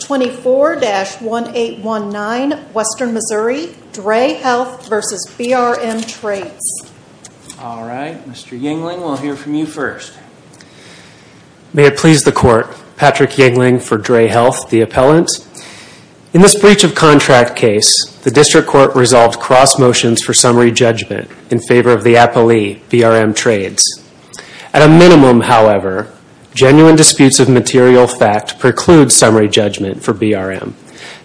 24-1819 Western Missouri, DRE Health v. BRM Trades All right, Mr. Yingling, we'll hear from you first. May it please the Court, Patrick Yingling for DRE Health, the appellant. In this breach of contract case, the District Court resolved cross motions for summary judgment in favor of the appellee, BRM Trades. At a minimum, however, genuine disputes of material fact preclude summary judgment for BRM.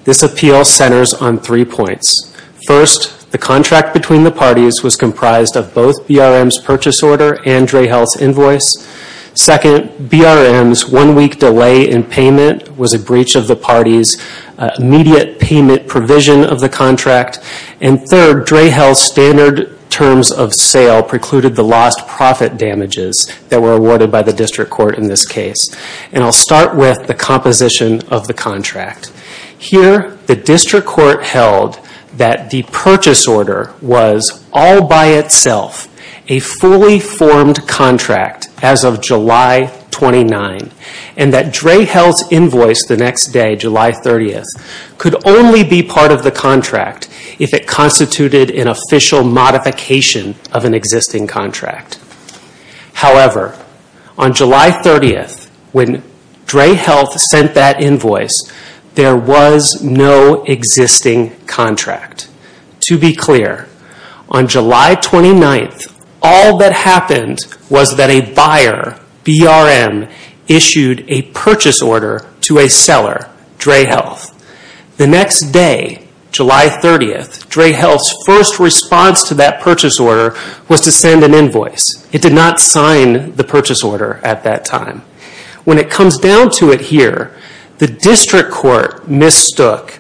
This appeal centers on three points. First, the contract between the parties was comprised of both BRM's purchase order and DRE Health's invoice. Second, BRM's one-week delay in payment was a breach of the parties' immediate payment provision of the contract. And third, DRE Health's standard terms of sale precluded the lost profit damages that were awarded by the District Court in this case. And I'll start with the composition of the contract. Here, the District Court held that the purchase order was all by itself a fully formed contract as of July 29, and that DRE Health's invoice the next day, July 30, could only be part of the contract if it constituted an official modification of an existing contract. However, on July 30, when DRE Health sent that invoice, there was no existing contract. To be clear, on July 29, all that happened was that a buyer, BRM, issued a purchase order to a seller, DRE Health. The next day, July 30, DRE Health's first response to that purchase order was to send an invoice. It did not sign the purchase order at that time. When it comes down to it here, the District Court mistook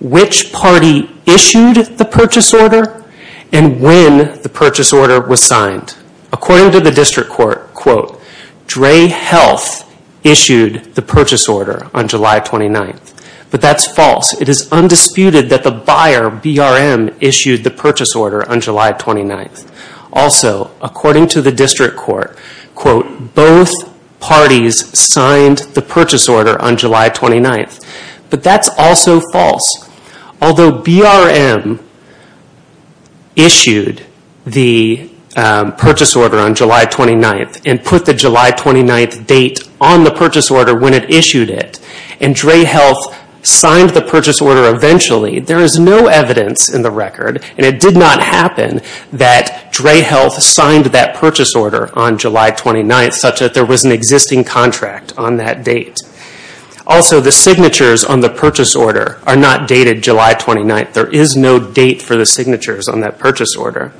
which party issued the purchase order and when the purchase order was signed. According to the District Court, DRE Health issued the purchase order on July 29. But that's false. It is undisputed that the buyer, BRM, issued the purchase order on July 29. Also, according to the District Court, both parties signed the purchase order on July 29. But that's also false. Although BRM issued the purchase order on July 29 and put the July 29 date on the purchase order when it issued it, and DRE Health signed the purchase order eventually, there is no evidence in the record, and it did not happen that DRE Health signed that purchase order on July 29 such that there was an existing contract on that date. Also, the signatures on the purchase order are not dated July 29. There is no date for the signatures on that purchase order.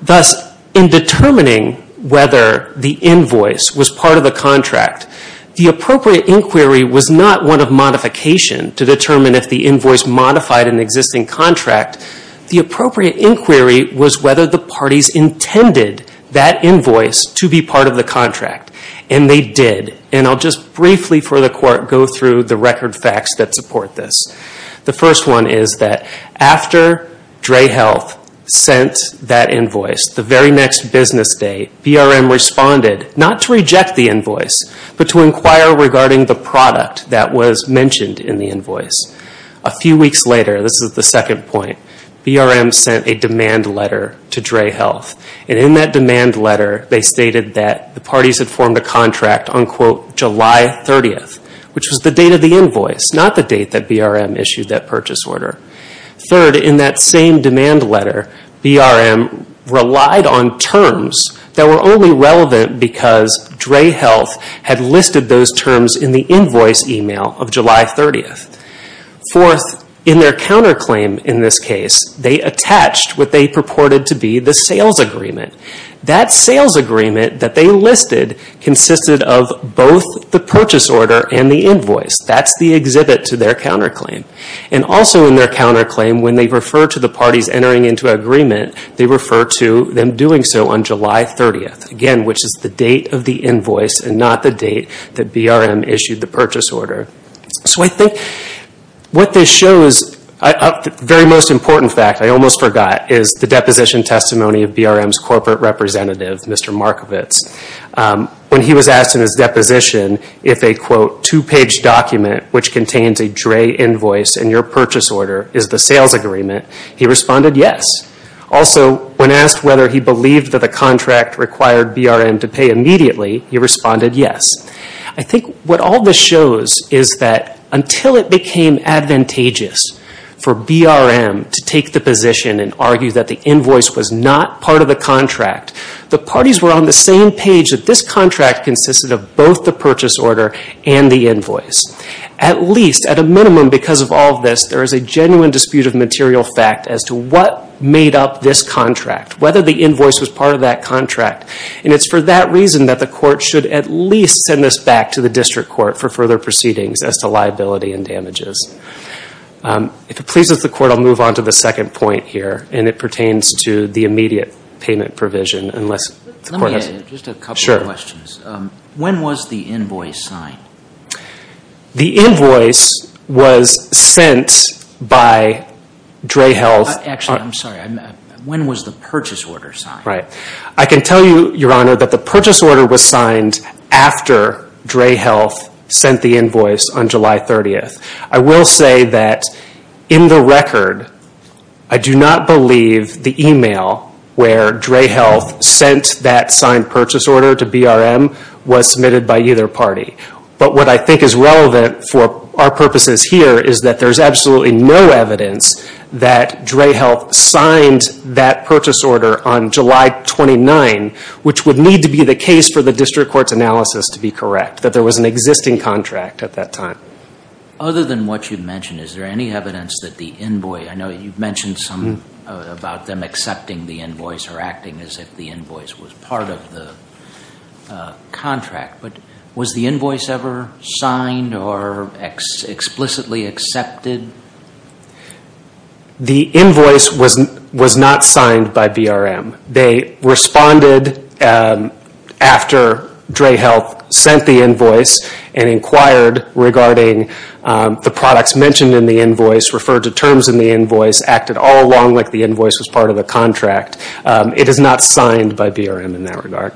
Thus, in determining whether the invoice was part of the contract, the appropriate inquiry was not one of modification to determine if the invoice modified an existing contract. The appropriate inquiry was whether the parties intended that invoice to be part of the contract, and they did. I'll just briefly for the Court go through the record facts that support this. The first one is that after DRE Health sent that invoice, the very next business day, BRM responded not to reject the invoice, but to inquire regarding the product that was mentioned in the invoice. A few weeks later, this is the second point, BRM sent a demand letter to DRE Health, and in that demand letter they stated that the parties had formed a contract on, quote, July 30th, which was the date of the invoice, not the date that BRM issued that purchase order. Third, in that same demand letter, BRM relied on terms that were only relevant because DRE Health had listed those terms in the invoice email of July 30th. Fourth, in their counterclaim in this case, they attached what they purported to be the sales agreement. That sales agreement that they listed consisted of both the purchase order and the invoice. That's the exhibit to their counterclaim. Also in their counterclaim, when they refer to the parties entering into agreement, they refer to them doing so on July 30th, again, which is the date of the invoice and not the date that BRM issued the purchase order. So I think what this shows, the very most important fact, I almost forgot, is the deposition testimony of BRM's corporate representative, Mr. Markovits. When he was asked in his deposition if a, quote, two-page document which contains a DRE invoice and your purchase order is the sales agreement, he responded yes. Also, when asked whether he believed that the contract required BRM to pay immediately, he responded yes. I think what all this shows is that until it became advantageous for BRM to take the position and argue that the invoice was not part of the contract, the parties were on the same page that this contract consisted of both the purchase order and the invoice. At least, at a minimum, because of all this, there is a genuine dispute of material fact as to what made up this contract, whether the invoice was part of that contract. And it's for that reason that the court should at least send this back to the district court for further proceedings as to liability and damages. If it pleases the court, I'll move on to the second point here, and it pertains to the immediate payment provision, unless the court has... Let me add just a couple of questions. Sure. When was the invoice signed? The invoice was sent by DRE Health... Actually, I'm sorry. When was the purchase order signed? I can tell you, Your Honor, that the purchase order was signed after DRE Health sent the invoice on July 30th. I will say that in the record, I do not believe the email where DRE Health sent that signed purchase order to BRM was submitted by either party. But what I think is relevant for our purposes here is that there is absolutely no evidence that DRE Health signed that purchase order on July 29, which would need to be the case for the district court's analysis to be correct, that there was an existing contract at that time. Other than what you've mentioned, is there any evidence that the invoice... I know you've mentioned some about them accepting the invoice or acting as if the invoice was part of the contract. But was the invoice ever signed or explicitly accepted? The invoice was not signed by BRM. They responded after DRE Health sent the invoice and inquired regarding the products mentioned in the invoice, referred to terms in the invoice, acted all along like the invoice was part of the contract. It is not signed by BRM in that regard.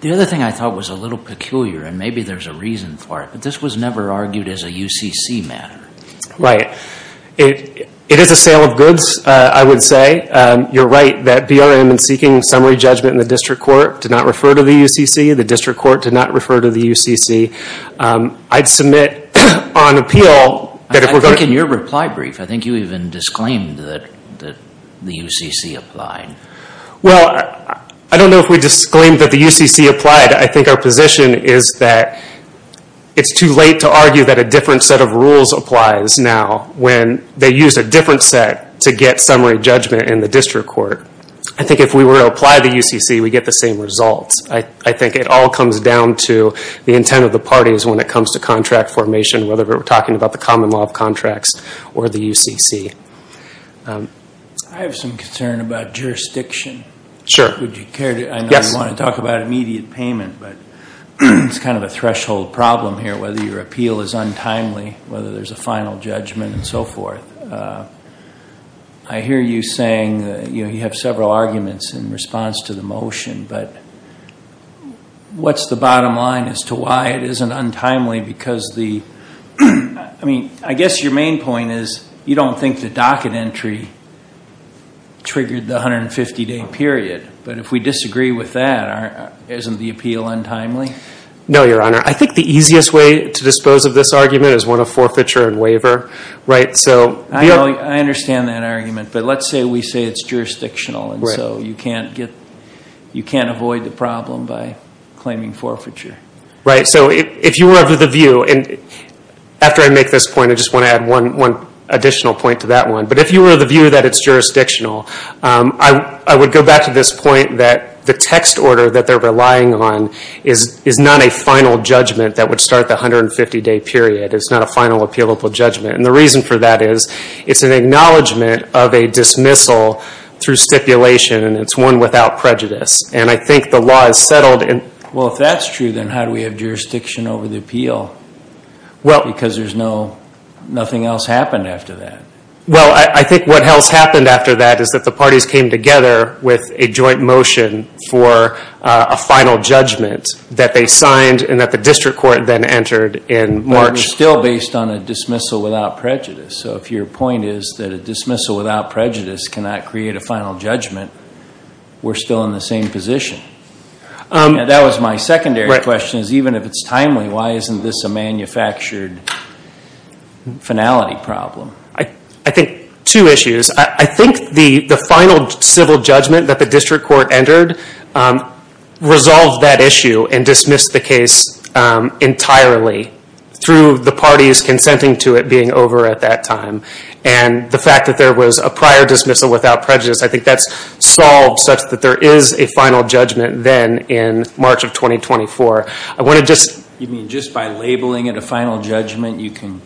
The other thing I thought was a little peculiar, and maybe there's a reason for it, but this was never argued as a UCC matter. Right. It is a sale of goods, I would say. You're right that BRM in seeking summary judgment in the district court did not refer to the UCC. The district court did not refer to the UCC. I'd submit on appeal that if we're going to... I think in your reply brief, I think you even disclaimed that the UCC applied. Well, I don't know if we disclaimed that the UCC applied. I think our position is that it's too late to argue that a different set of rules applies now when they use a different set to get summary judgment in the district court. I think if we were to apply the UCC, we'd get the same results. I think it all comes down to the intent of the parties when it comes to contract formation, whether we're talking about the common law of contracts or the UCC. I have some concern about jurisdiction. I know you want to talk about immediate payment, but it's kind of a threshold problem here, whether your appeal is untimely, whether there's a final judgment and so forth. I hear you saying you have several arguments in response to the motion, but what's the bottom line as to why it isn't untimely? I guess your main point is you don't think the docket entry triggered the 150-day period, but if we disagree with that, isn't the appeal untimely? No, Your Honor. I think the easiest way to dispose of this argument is one of forfeiture and waiver. I understand that argument, but let's say we say it's jurisdictional, and so you can't avoid the problem by claiming forfeiture. Right, so if you were of the view, and after I make this point, I just want to add one additional point to that one. But if you were of the view that it's jurisdictional, I would go back to this point that the text order that they're relying on is not a final judgment that would start the 150-day period. It's not a final appealable judgment. And the reason for that is it's an acknowledgment of a dismissal through stipulation, and it's one without prejudice. And I think the law is settled. Well, if that's true, then how do we have jurisdiction over the appeal? Because nothing else happened after that. Well, I think what else happened after that is that the parties came together with a joint motion for a final judgment that they signed and that the district court then entered in March. But it was still based on a dismissal without prejudice. So if your point is that a dismissal without prejudice cannot create a final judgment, we're still in the same position. That was my secondary question is even if it's timely, why isn't this a manufactured finality problem? I think two issues. I think the final civil judgment that the district court entered resolved that issue and dismissed the case entirely through the parties consenting to it being over at that time. And the fact that there was a prior dismissal without prejudice, I think that's solved such that there is a final judgment then in March of 2024. You mean just by labeling it a final judgment, you can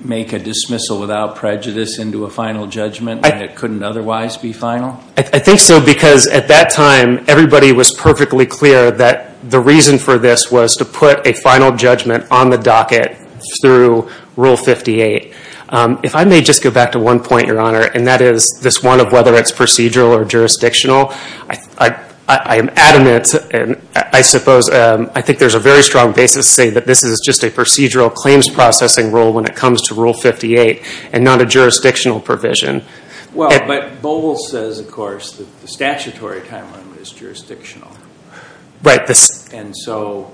make a dismissal without prejudice into a final judgment that couldn't otherwise be final? I think so because at that time, everybody was perfectly clear that the reason for this was to put a final judgment on the docket through Rule 58. If I may just go back to one point, Your Honor, and that is this one of whether it's procedural or jurisdictional, I am adamant and I suppose I think there's a very strong basis to say that this is just a procedural claims processing rule when it comes to Rule 58 and not a jurisdictional provision. Well, but Bowles says, of course, that the statutory timeline is jurisdictional. Right. And so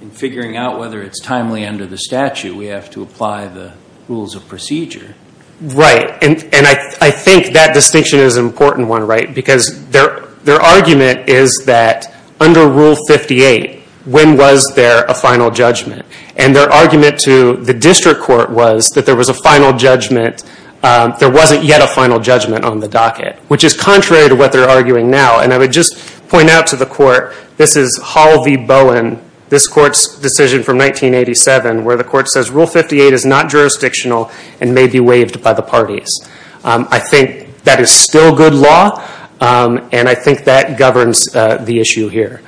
in figuring out whether it's timely under the statute, we have to apply the rules of procedure. Right. And I think that distinction is an important one, right, because their argument is that under Rule 58, when was there a final judgment? And their argument to the district court was that there was a final judgment, there wasn't yet a final judgment on the docket, which is contrary to what they're arguing now. And I would just point out to the court, this is Hall v. Bowen, this court's decision from 1987 where the court says Rule 58 is not jurisdictional and may be waived by the parties. I think that is still good law, and I think that governs the issue here.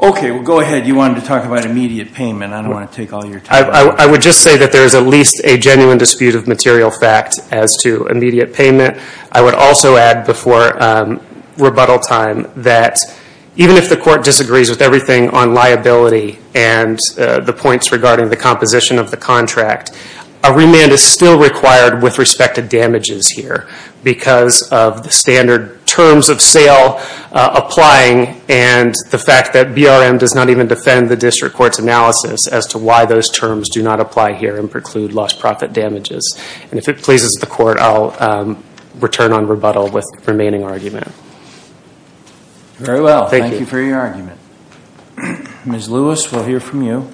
Okay. Well, go ahead. You wanted to talk about immediate payment. I don't want to take all your time. I would just say that there is at least a genuine dispute of material fact as to immediate payment. I would also add before rebuttal time that even if the court disagrees with everything on liability and the points regarding the composition of the contract, a remand is still required with respect to damages here because of the standard terms of sale applying and the fact that BRM does not even defend the district court's analysis as to why those terms do not apply here and preclude lost profit damages. And if it pleases the court, I'll return on rebuttal with the remaining argument. Very well. Thank you for your argument. Ms. Lewis, we'll hear from you.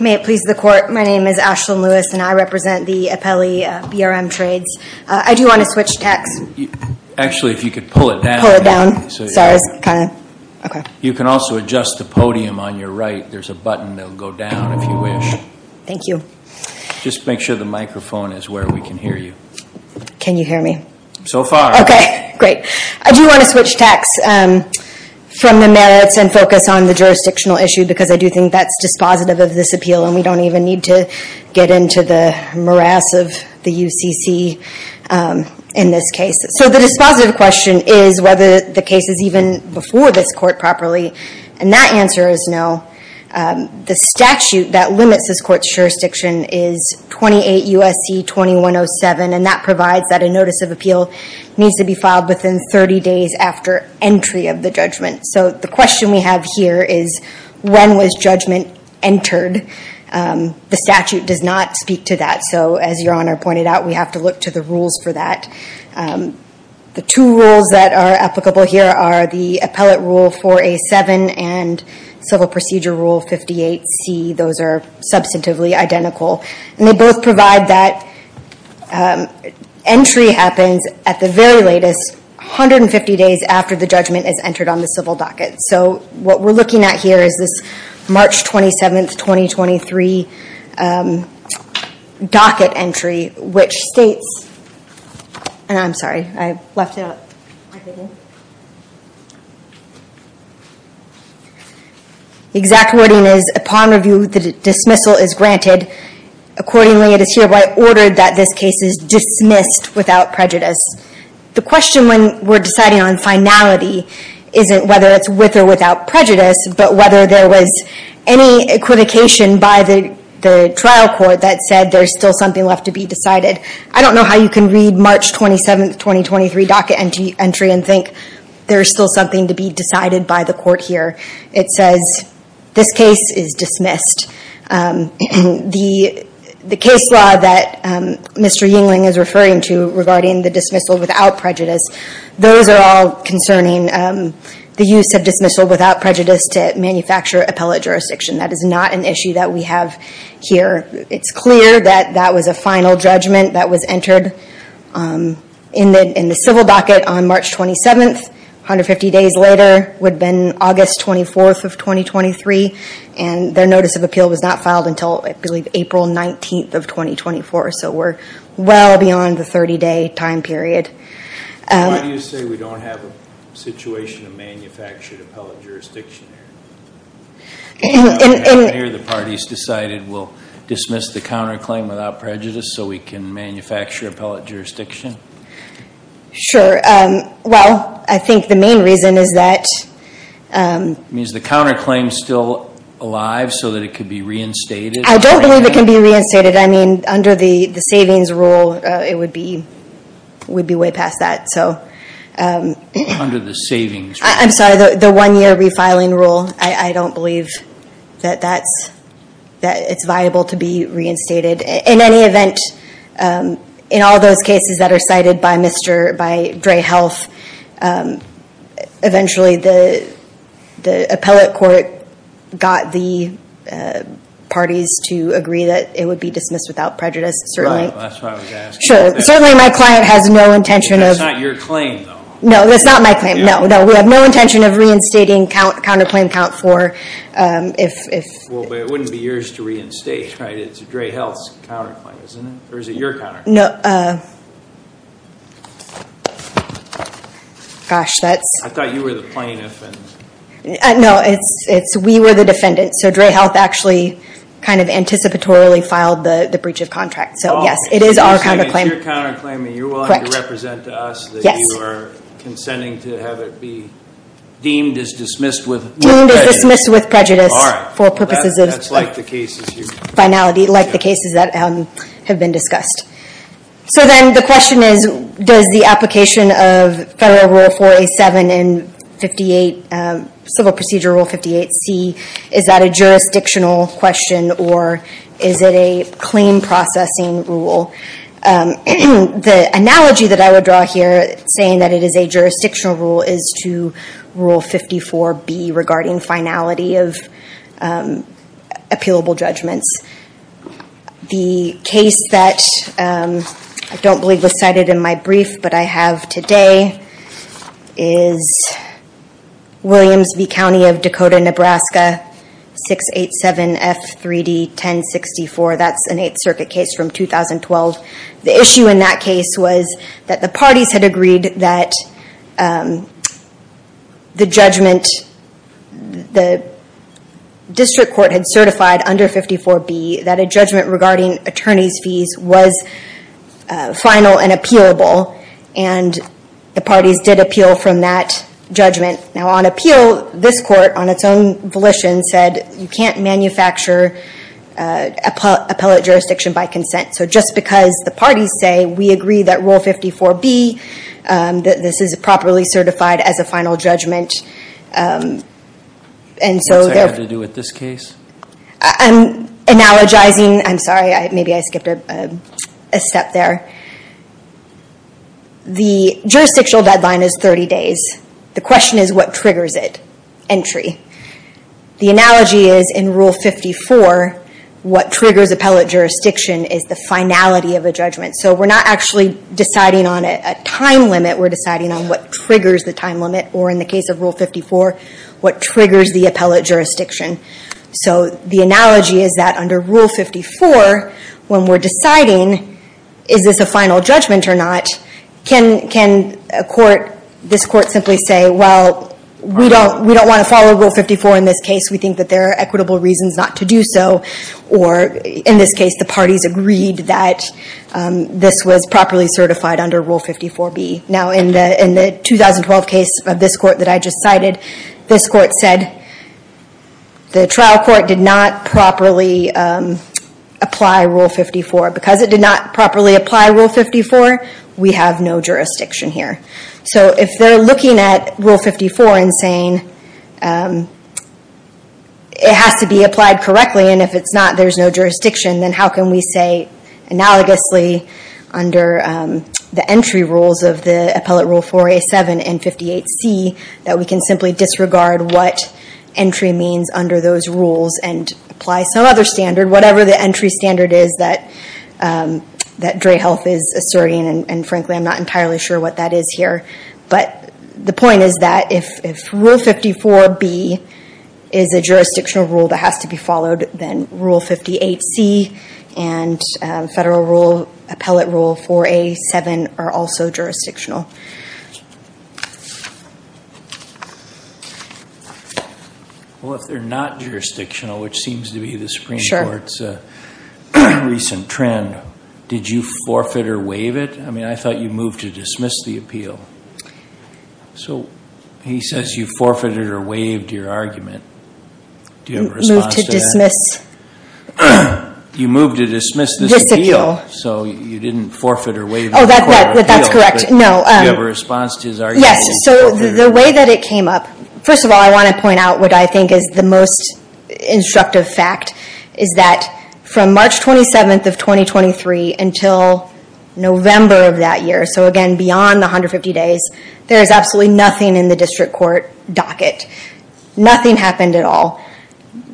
May it please the court, my name is Ashlyn Lewis, and I represent the appellee BRM trades. I do want to switch texts. Actually, if you could pull it down. Sorry. Okay. You can also adjust the podium on your right. There's a button that will go down if you wish. Thank you. Just make sure the microphone is where we can hear you. Can you hear me? So far. Okay, great. I do want to switch texts from the merits and focus on the jurisdictional issue because I do think that's dispositive of this appeal and we don't even need to get into the morass of the UCC in this case. So the dispositive question is whether the case is even before this court properly and that answer is no. The statute that limits this court's jurisdiction is 28 U.S.C. 2107 and that provides that a notice of appeal needs to be filed within 30 days after entry of the judgment. So the question we have here is when was judgment entered? The statute does not speak to that. So as Your Honor pointed out, we have to look to the rules for that. The two rules that are applicable here are the Appellate Rule 4A.7 and Civil Procedure Rule 58C. Those are substantively identical. And they both provide that entry happens at the very latest, 150 days after the judgment is entered on the civil docket. So what we're looking at here is this March 27, 2023 docket entry, which states, and I'm sorry, I left it out. The exact wording is, upon review, the dismissal is granted. Accordingly, it is hereby ordered that this case is dismissed without prejudice. The question when we're deciding on finality isn't whether it's with or without prejudice, but whether there was any equivocation by the trial court that said there's still something left to be decided. I don't know how you can read March 27, 2023 docket entry and think there's still something to be decided by the court here. It says this case is dismissed. The case law that Mr. Yingling is referring to regarding the dismissal without prejudice, those are all concerning the use of dismissal without prejudice to manufacture appellate jurisdiction. That is not an issue that we have here. It's clear that that was a final judgment that was entered in the civil docket on March 27. 150 days later would have been August 24, 2023, and their notice of appeal was not filed until, I believe, April 19, 2024. So we're well beyond the 30-day time period. Why do you say we don't have a situation of manufactured appellate jurisdiction here? The parties decided we'll dismiss the counterclaim without prejudice so we can manufacture appellate jurisdiction? Well, I think the main reason is that It means the counterclaim is still alive so that it could be reinstated? I don't believe it can be reinstated. I mean, under the savings rule, it would be way past that. Under the savings rule? I'm sorry, the one-year refiling rule. I don't believe that it's viable to be reinstated. In any event, in all those cases that are cited by Dray Health, eventually the appellate court got the parties to agree that it would be dismissed without prejudice. Right, that's why I was asking. Certainly my client has no intention of That's not your claim, though. No, that's not my claim. No, we have no intention of reinstating counterclaim count four. Well, but it wouldn't be yours to reinstate, right? It's Dray Health's counterclaim, isn't it? Or is it your counterclaim? Gosh, that's I thought you were the plaintiff. No, it's we were the defendants. So Dray Health actually kind of anticipatorily filed the breach of contract. So, yes, it is our counterclaim. If it's your counterclaim and you're willing to represent to us, that you are consenting to have it be deemed as dismissed with prejudice. Deemed as dismissed with prejudice. All right. For purposes of That's like the cases here. Finality, like the cases that have been discussed. So then the question is, does the application of Federal Rule 4A7 and Civil Procedure Rule 58C, is that a jurisdictional question or is it a claim processing rule? The analogy that I would draw here, saying that it is a jurisdictional rule, is to Rule 54B regarding finality of appealable judgments. The case that I don't believe was cited in my brief, but I have today, is Williams v. County of Dakota, Nebraska 687F3D1064. That's an Eighth Circuit case from 2012. The issue in that case was that the parties had agreed that the judgment, the district court had certified under 54B that a judgment regarding attorney's fees was final and appealable. And the parties did appeal from that judgment. Now on appeal, this court, on its own volition, said you can't manufacture appellate jurisdiction by consent. So just because the parties say we agree that Rule 54B, that this is properly certified as a final judgment. What's that got to do with this case? I'm analogizing. I'm sorry, maybe I skipped a step there. The jurisdictional deadline is 30 days. The question is what triggers it? Entry. The analogy is in Rule 54, what triggers appellate jurisdiction is the finality of a judgment. So we're not actually deciding on a time limit, we're deciding on what triggers the time limit. Or in the case of Rule 54, what triggers the appellate jurisdiction. So the analogy is that under Rule 54, when we're deciding is this a final judgment or not, can this court simply say, well, we don't want to follow Rule 54 in this case. We think that there are equitable reasons not to do so. Or in this case, the parties agreed that this was properly certified under Rule 54B. Now in the 2012 case of this court that I just cited, this court said the trial court did not properly apply Rule 54. Because it did not properly apply Rule 54, we have no jurisdiction here. So if they're looking at Rule 54 and saying it has to be applied correctly, and if it's not, there's no jurisdiction, then how can we say analogously under the entry rules of the Appellate Rule 4A.7 and 58C that we can simply disregard what entry means under those rules and apply some other standard. Whatever the entry standard is that Dray Health is asserting, and frankly I'm not entirely sure what that is here. But the point is that if Rule 54B is a jurisdictional rule that has to be followed, then Rule 58C and Federal Appellate Rule 4A.7 are also jurisdictional. Well, if they're not jurisdictional, which seems to be the Supreme Court's recent trend, did you forfeit or waive it? I mean, I thought you moved to dismiss the appeal. So he says you forfeited or waived your argument. Do you have a response to that? You moved to dismiss this appeal. So you didn't forfeit or waive the court appeal. Oh, that's correct. No. Do you have a response to his argument? Yes. So the way that it came up, first of all, I want to point out what I think is the most instructive fact, is that from March 27th of 2023 until November of that year, so again beyond the 150 days, there is absolutely nothing in the district court docket. Nothing happened at all.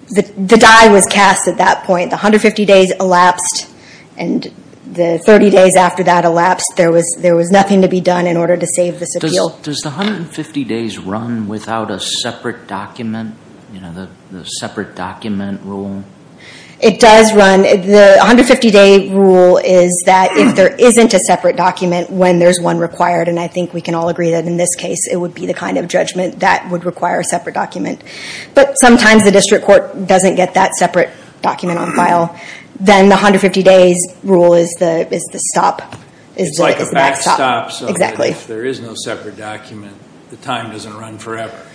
The die was cast at that point. The 150 days elapsed, and the 30 days after that elapsed, there was nothing to be done in order to save this appeal. Does the 150 days run without a separate document, you know, the separate document rule? It does run. The 150-day rule is that if there isn't a separate document when there's one required, and I think we can all agree that in this case it would be the kind of judgment that would require a separate document. But sometimes the district court doesn't get that separate document on file. Then the 150 days rule is the stop. It's like a backstop. Exactly. If there is no separate document, the time doesn't run forever.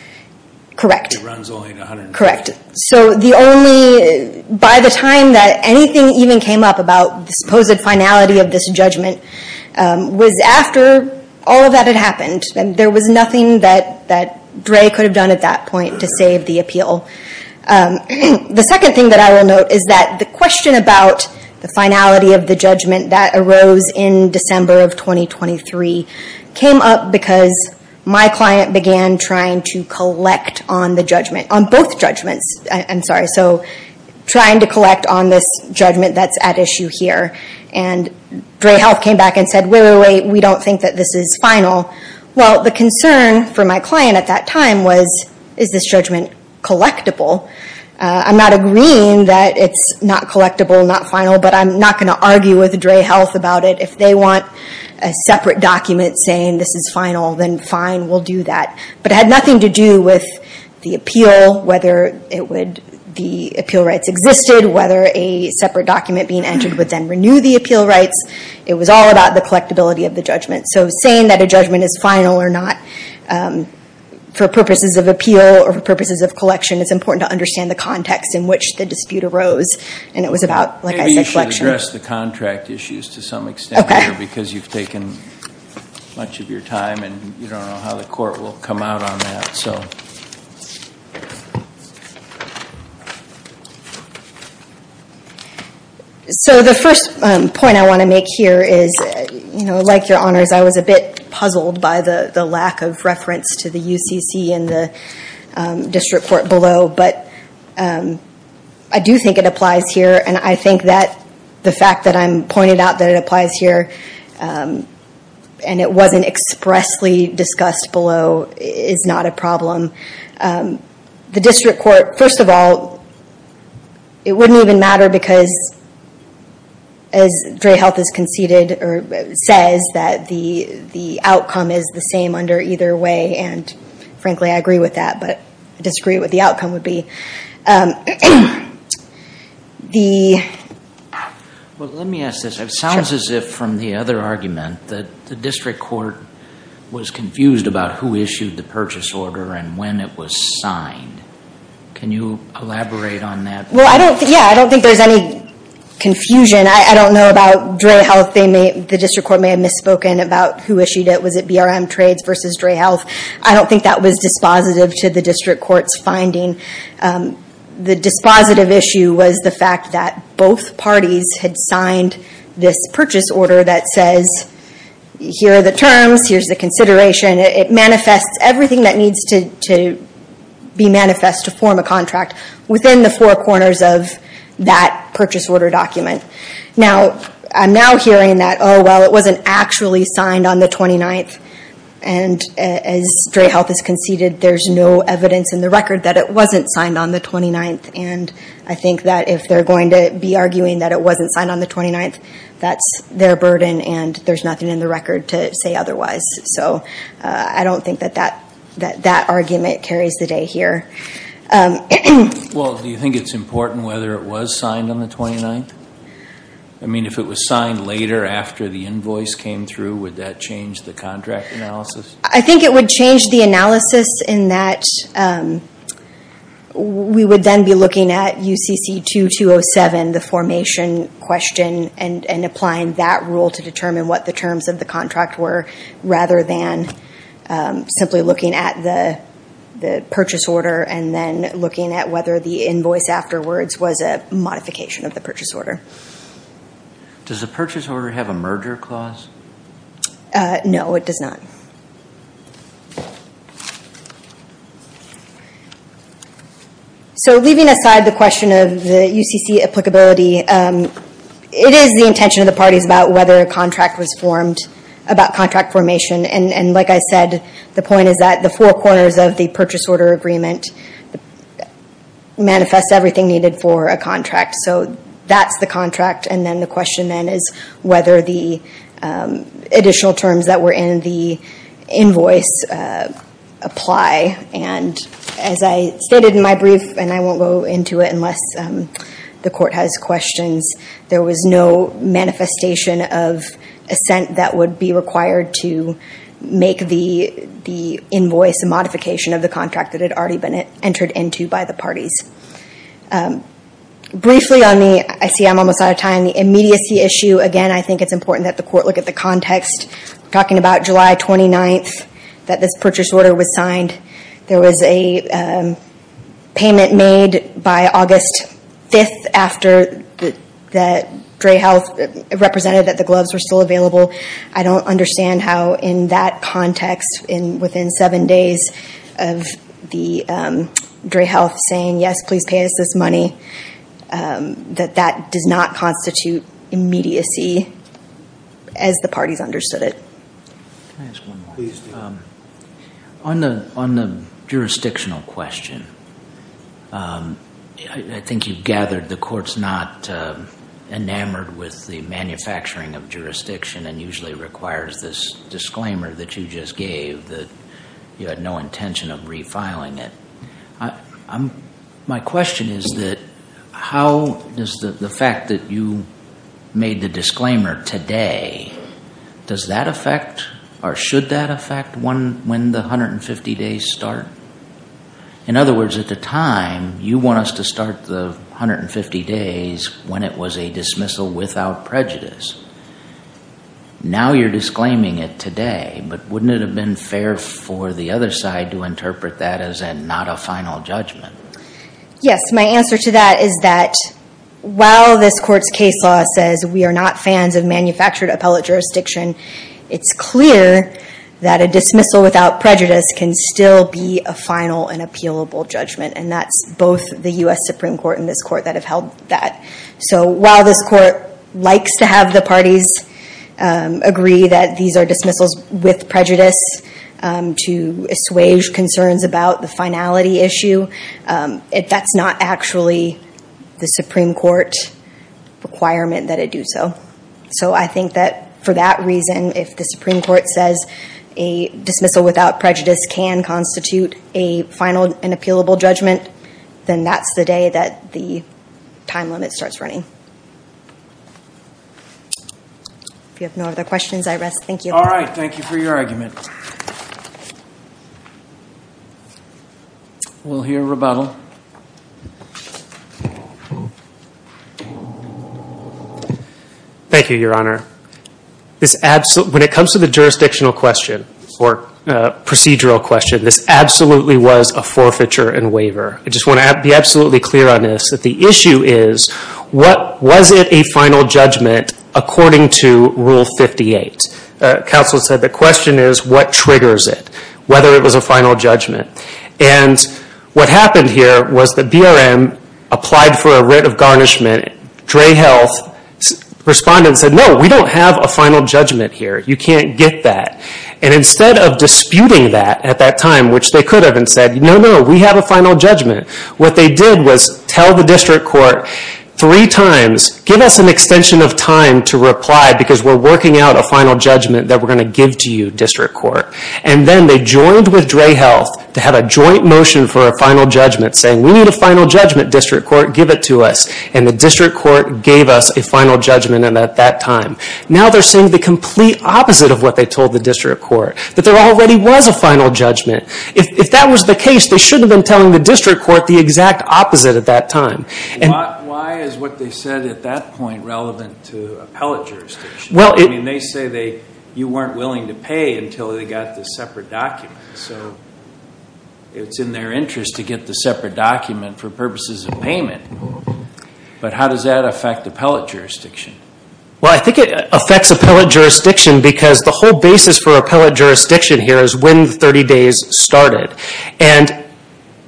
Correct. It runs only 150 days. Correct. So the only, by the time that anything even came up about the supposed finality of this judgment, was after all of that had happened. There was nothing that Dre could have done at that point to save the appeal. The second thing that I will note is that the question about the finality of the judgment that arose in December of 2023 came up because my client began trying to collect on the judgment, on both judgments, I'm sorry, so trying to collect on this judgment that's at issue here. And Dre Health came back and said, wait, wait, wait, we don't think that this is final. Well, the concern for my client at that time was, is this judgment collectible? I'm not agreeing that it's not collectible, not final, but I'm not going to argue with Dre Health about it. If they want a separate document saying this is final, then fine, we'll do that. But it had nothing to do with the appeal, whether the appeal rights existed, whether a separate document being entered would then renew the appeal rights. It was all about the collectibility of the judgment. So saying that a judgment is final or not for purposes of appeal or for purposes of collection, it's important to understand the context in which the dispute arose. And it was about, like I said, collection. Maybe you should address the contract issues to some extent here because you've taken much of your time and you don't know how the court will come out on that. So the first point I want to make here is, like your honors, I was a bit puzzled by the lack of reference to the UCC in the district court below. But I do think it applies here. And I think that the fact that I'm pointing out that it applies here and it wasn't expressly discussed below is not a problem. The district court, first of all, it wouldn't even matter because, as Dray Health has conceded or says, that the outcome is the same under either way. And frankly, I agree with that, but I disagree with what the outcome would be. Well, let me ask this. It sounds as if, from the other argument, that the district court was confused about who issued the purchase order and when it was signed. Can you elaborate on that? Well, yeah, I don't think there's any confusion. I don't know about Dray Health. The district court may have misspoken about who issued it. Was it BRM Trades versus Dray Health? I don't think that was dispositive to the district court's finding. The dispositive issue was the fact that both parties had signed this purchase order that says, here are the terms, here's the consideration. It manifests everything that needs to be manifest to form a contract within the four corners of that purchase order document. Now, I'm now hearing that, oh, well, it wasn't actually signed on the 29th. And as Dray Health has conceded, there's no evidence in the record that it wasn't signed on the 29th. And I think that if they're going to be arguing that it wasn't signed on the 29th, that's their burden and there's nothing in the record to say otherwise. So I don't think that that argument carries the day here. Well, do you think it's important whether it was signed on the 29th? I mean, if it was signed later after the invoice came through, would that change the contract analysis? I think it would change the analysis in that we would then be looking at UCC 2207, the formation question, and applying that rule to determine what the terms of the contract were, rather than simply looking at the purchase order and then looking at whether the invoice afterwards was a modification of the purchase order. Does the purchase order have a merger clause? No, it does not. So leaving aside the question of the UCC applicability, it is the intention of the parties about whether a contract was formed, about contract formation. And like I said, the point is that the four corners of the purchase order agreement manifest everything needed for a contract. So that's the contract. And then the question then is whether the additional terms that were in the invoice apply. And as I stated in my brief, and I won't go into it unless the court has questions, there was no manifestation of assent that would be required to make the invoice a modification of the contract that had already been entered into by the parties. Briefly on the, I see I'm almost out of time, the immediacy issue, again, I think it's important that the court look at the context. We're talking about July 29th, that this purchase order was signed. There was a payment made by August 5th after that Dray Health represented that the gloves were still available. I don't understand how in that context, within seven days of the Dray Health saying, yes, please pay us this money, that that does not constitute immediacy as the parties understood it. Can I ask one more? Please do. On the jurisdictional question, I think you've gathered the court's not enamored with the manufacturing of jurisdiction and usually requires this disclaimer that you just gave that you had no intention of refiling it. My question is that how does the fact that you made the disclaimer today, does that affect or should that affect when the 150 days start? In other words, at the time, you want us to start the 150 days when it was a dismissal without prejudice. Now you're disclaiming it today, but wouldn't it have been fair for the other side to interpret that as not a final judgment? Yes. My answer to that is that while this court's case law says we are not fans of manufactured appellate jurisdiction, it's clear that a dismissal without prejudice can still be a final and appealable judgment, and that's both the U.S. Supreme Court and this court that have held that. So while this court likes to have the parties agree that these are dismissals with prejudice to assuage concerns about the finality issue, that's not actually the Supreme Court requirement that it do so. So I think that for that reason, if the Supreme Court says a dismissal without prejudice can constitute a final and appealable judgment, then that's the day that the time limit starts running. If you have no other questions, I rest. Thank you. All right. Thank you for your argument. We'll hear rebuttal. Thank you, Your Honor. When it comes to the jurisdictional question or procedural question, this absolutely was a forfeiture and waiver. I just want to be absolutely clear on this, that the issue is what was it a final judgment according to Rule 58? Counsel said the question is what triggers it, whether it was a final judgment. And what happened here was the BRM applied for a writ of garnishment. And Dray Health responded and said, no, we don't have a final judgment here. You can't get that. And instead of disputing that at that time, which they could have, and said, no, no, we have a final judgment, what they did was tell the district court three times, give us an extension of time to reply because we're working out a final judgment that we're going to give to you, district court. And then they joined with Dray Health to have a joint motion for a final judgment saying, we need a final judgment, district court. Give it to us. And the district court gave us a final judgment at that time. Now they're saying the complete opposite of what they told the district court, that there already was a final judgment. If that was the case, they shouldn't have been telling the district court the exact opposite at that time. Why is what they said at that point relevant to appellate jurisdiction? They say you weren't willing to pay until they got the separate documents. So it's in their interest to get the separate document for purposes of payment. But how does that affect appellate jurisdiction? Well, I think it affects appellate jurisdiction because the whole basis for appellate jurisdiction here is when 30 days started. And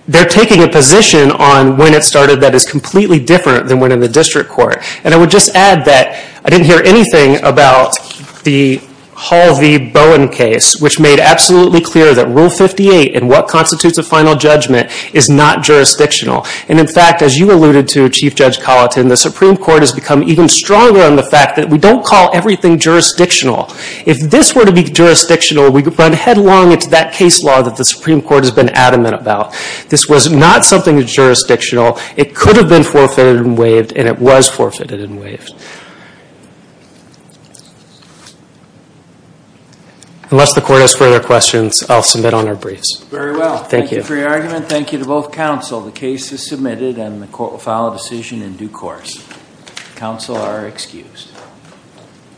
they're taking a position on when it started that is completely different than when in the district court. And I would just add that I didn't hear anything about the Hall v. Bowen case, which made absolutely clear that Rule 58 in what constitutes a final judgment is not jurisdictional. And in fact, as you alluded to, Chief Judge Colleton, the Supreme Court has become even stronger on the fact that we don't call everything jurisdictional. If this were to be jurisdictional, we would run headlong into that case law that the Supreme Court has been adamant about. This was not something jurisdictional. It could have been forfeited and waived, and it was forfeited and waived. Thank you. Unless the court has further questions, I'll submit on our briefs. Very well. Thank you. Thank you for your argument. Thank you to both counsel. The case is submitted and the court will file a decision in due course. Counsel are excused.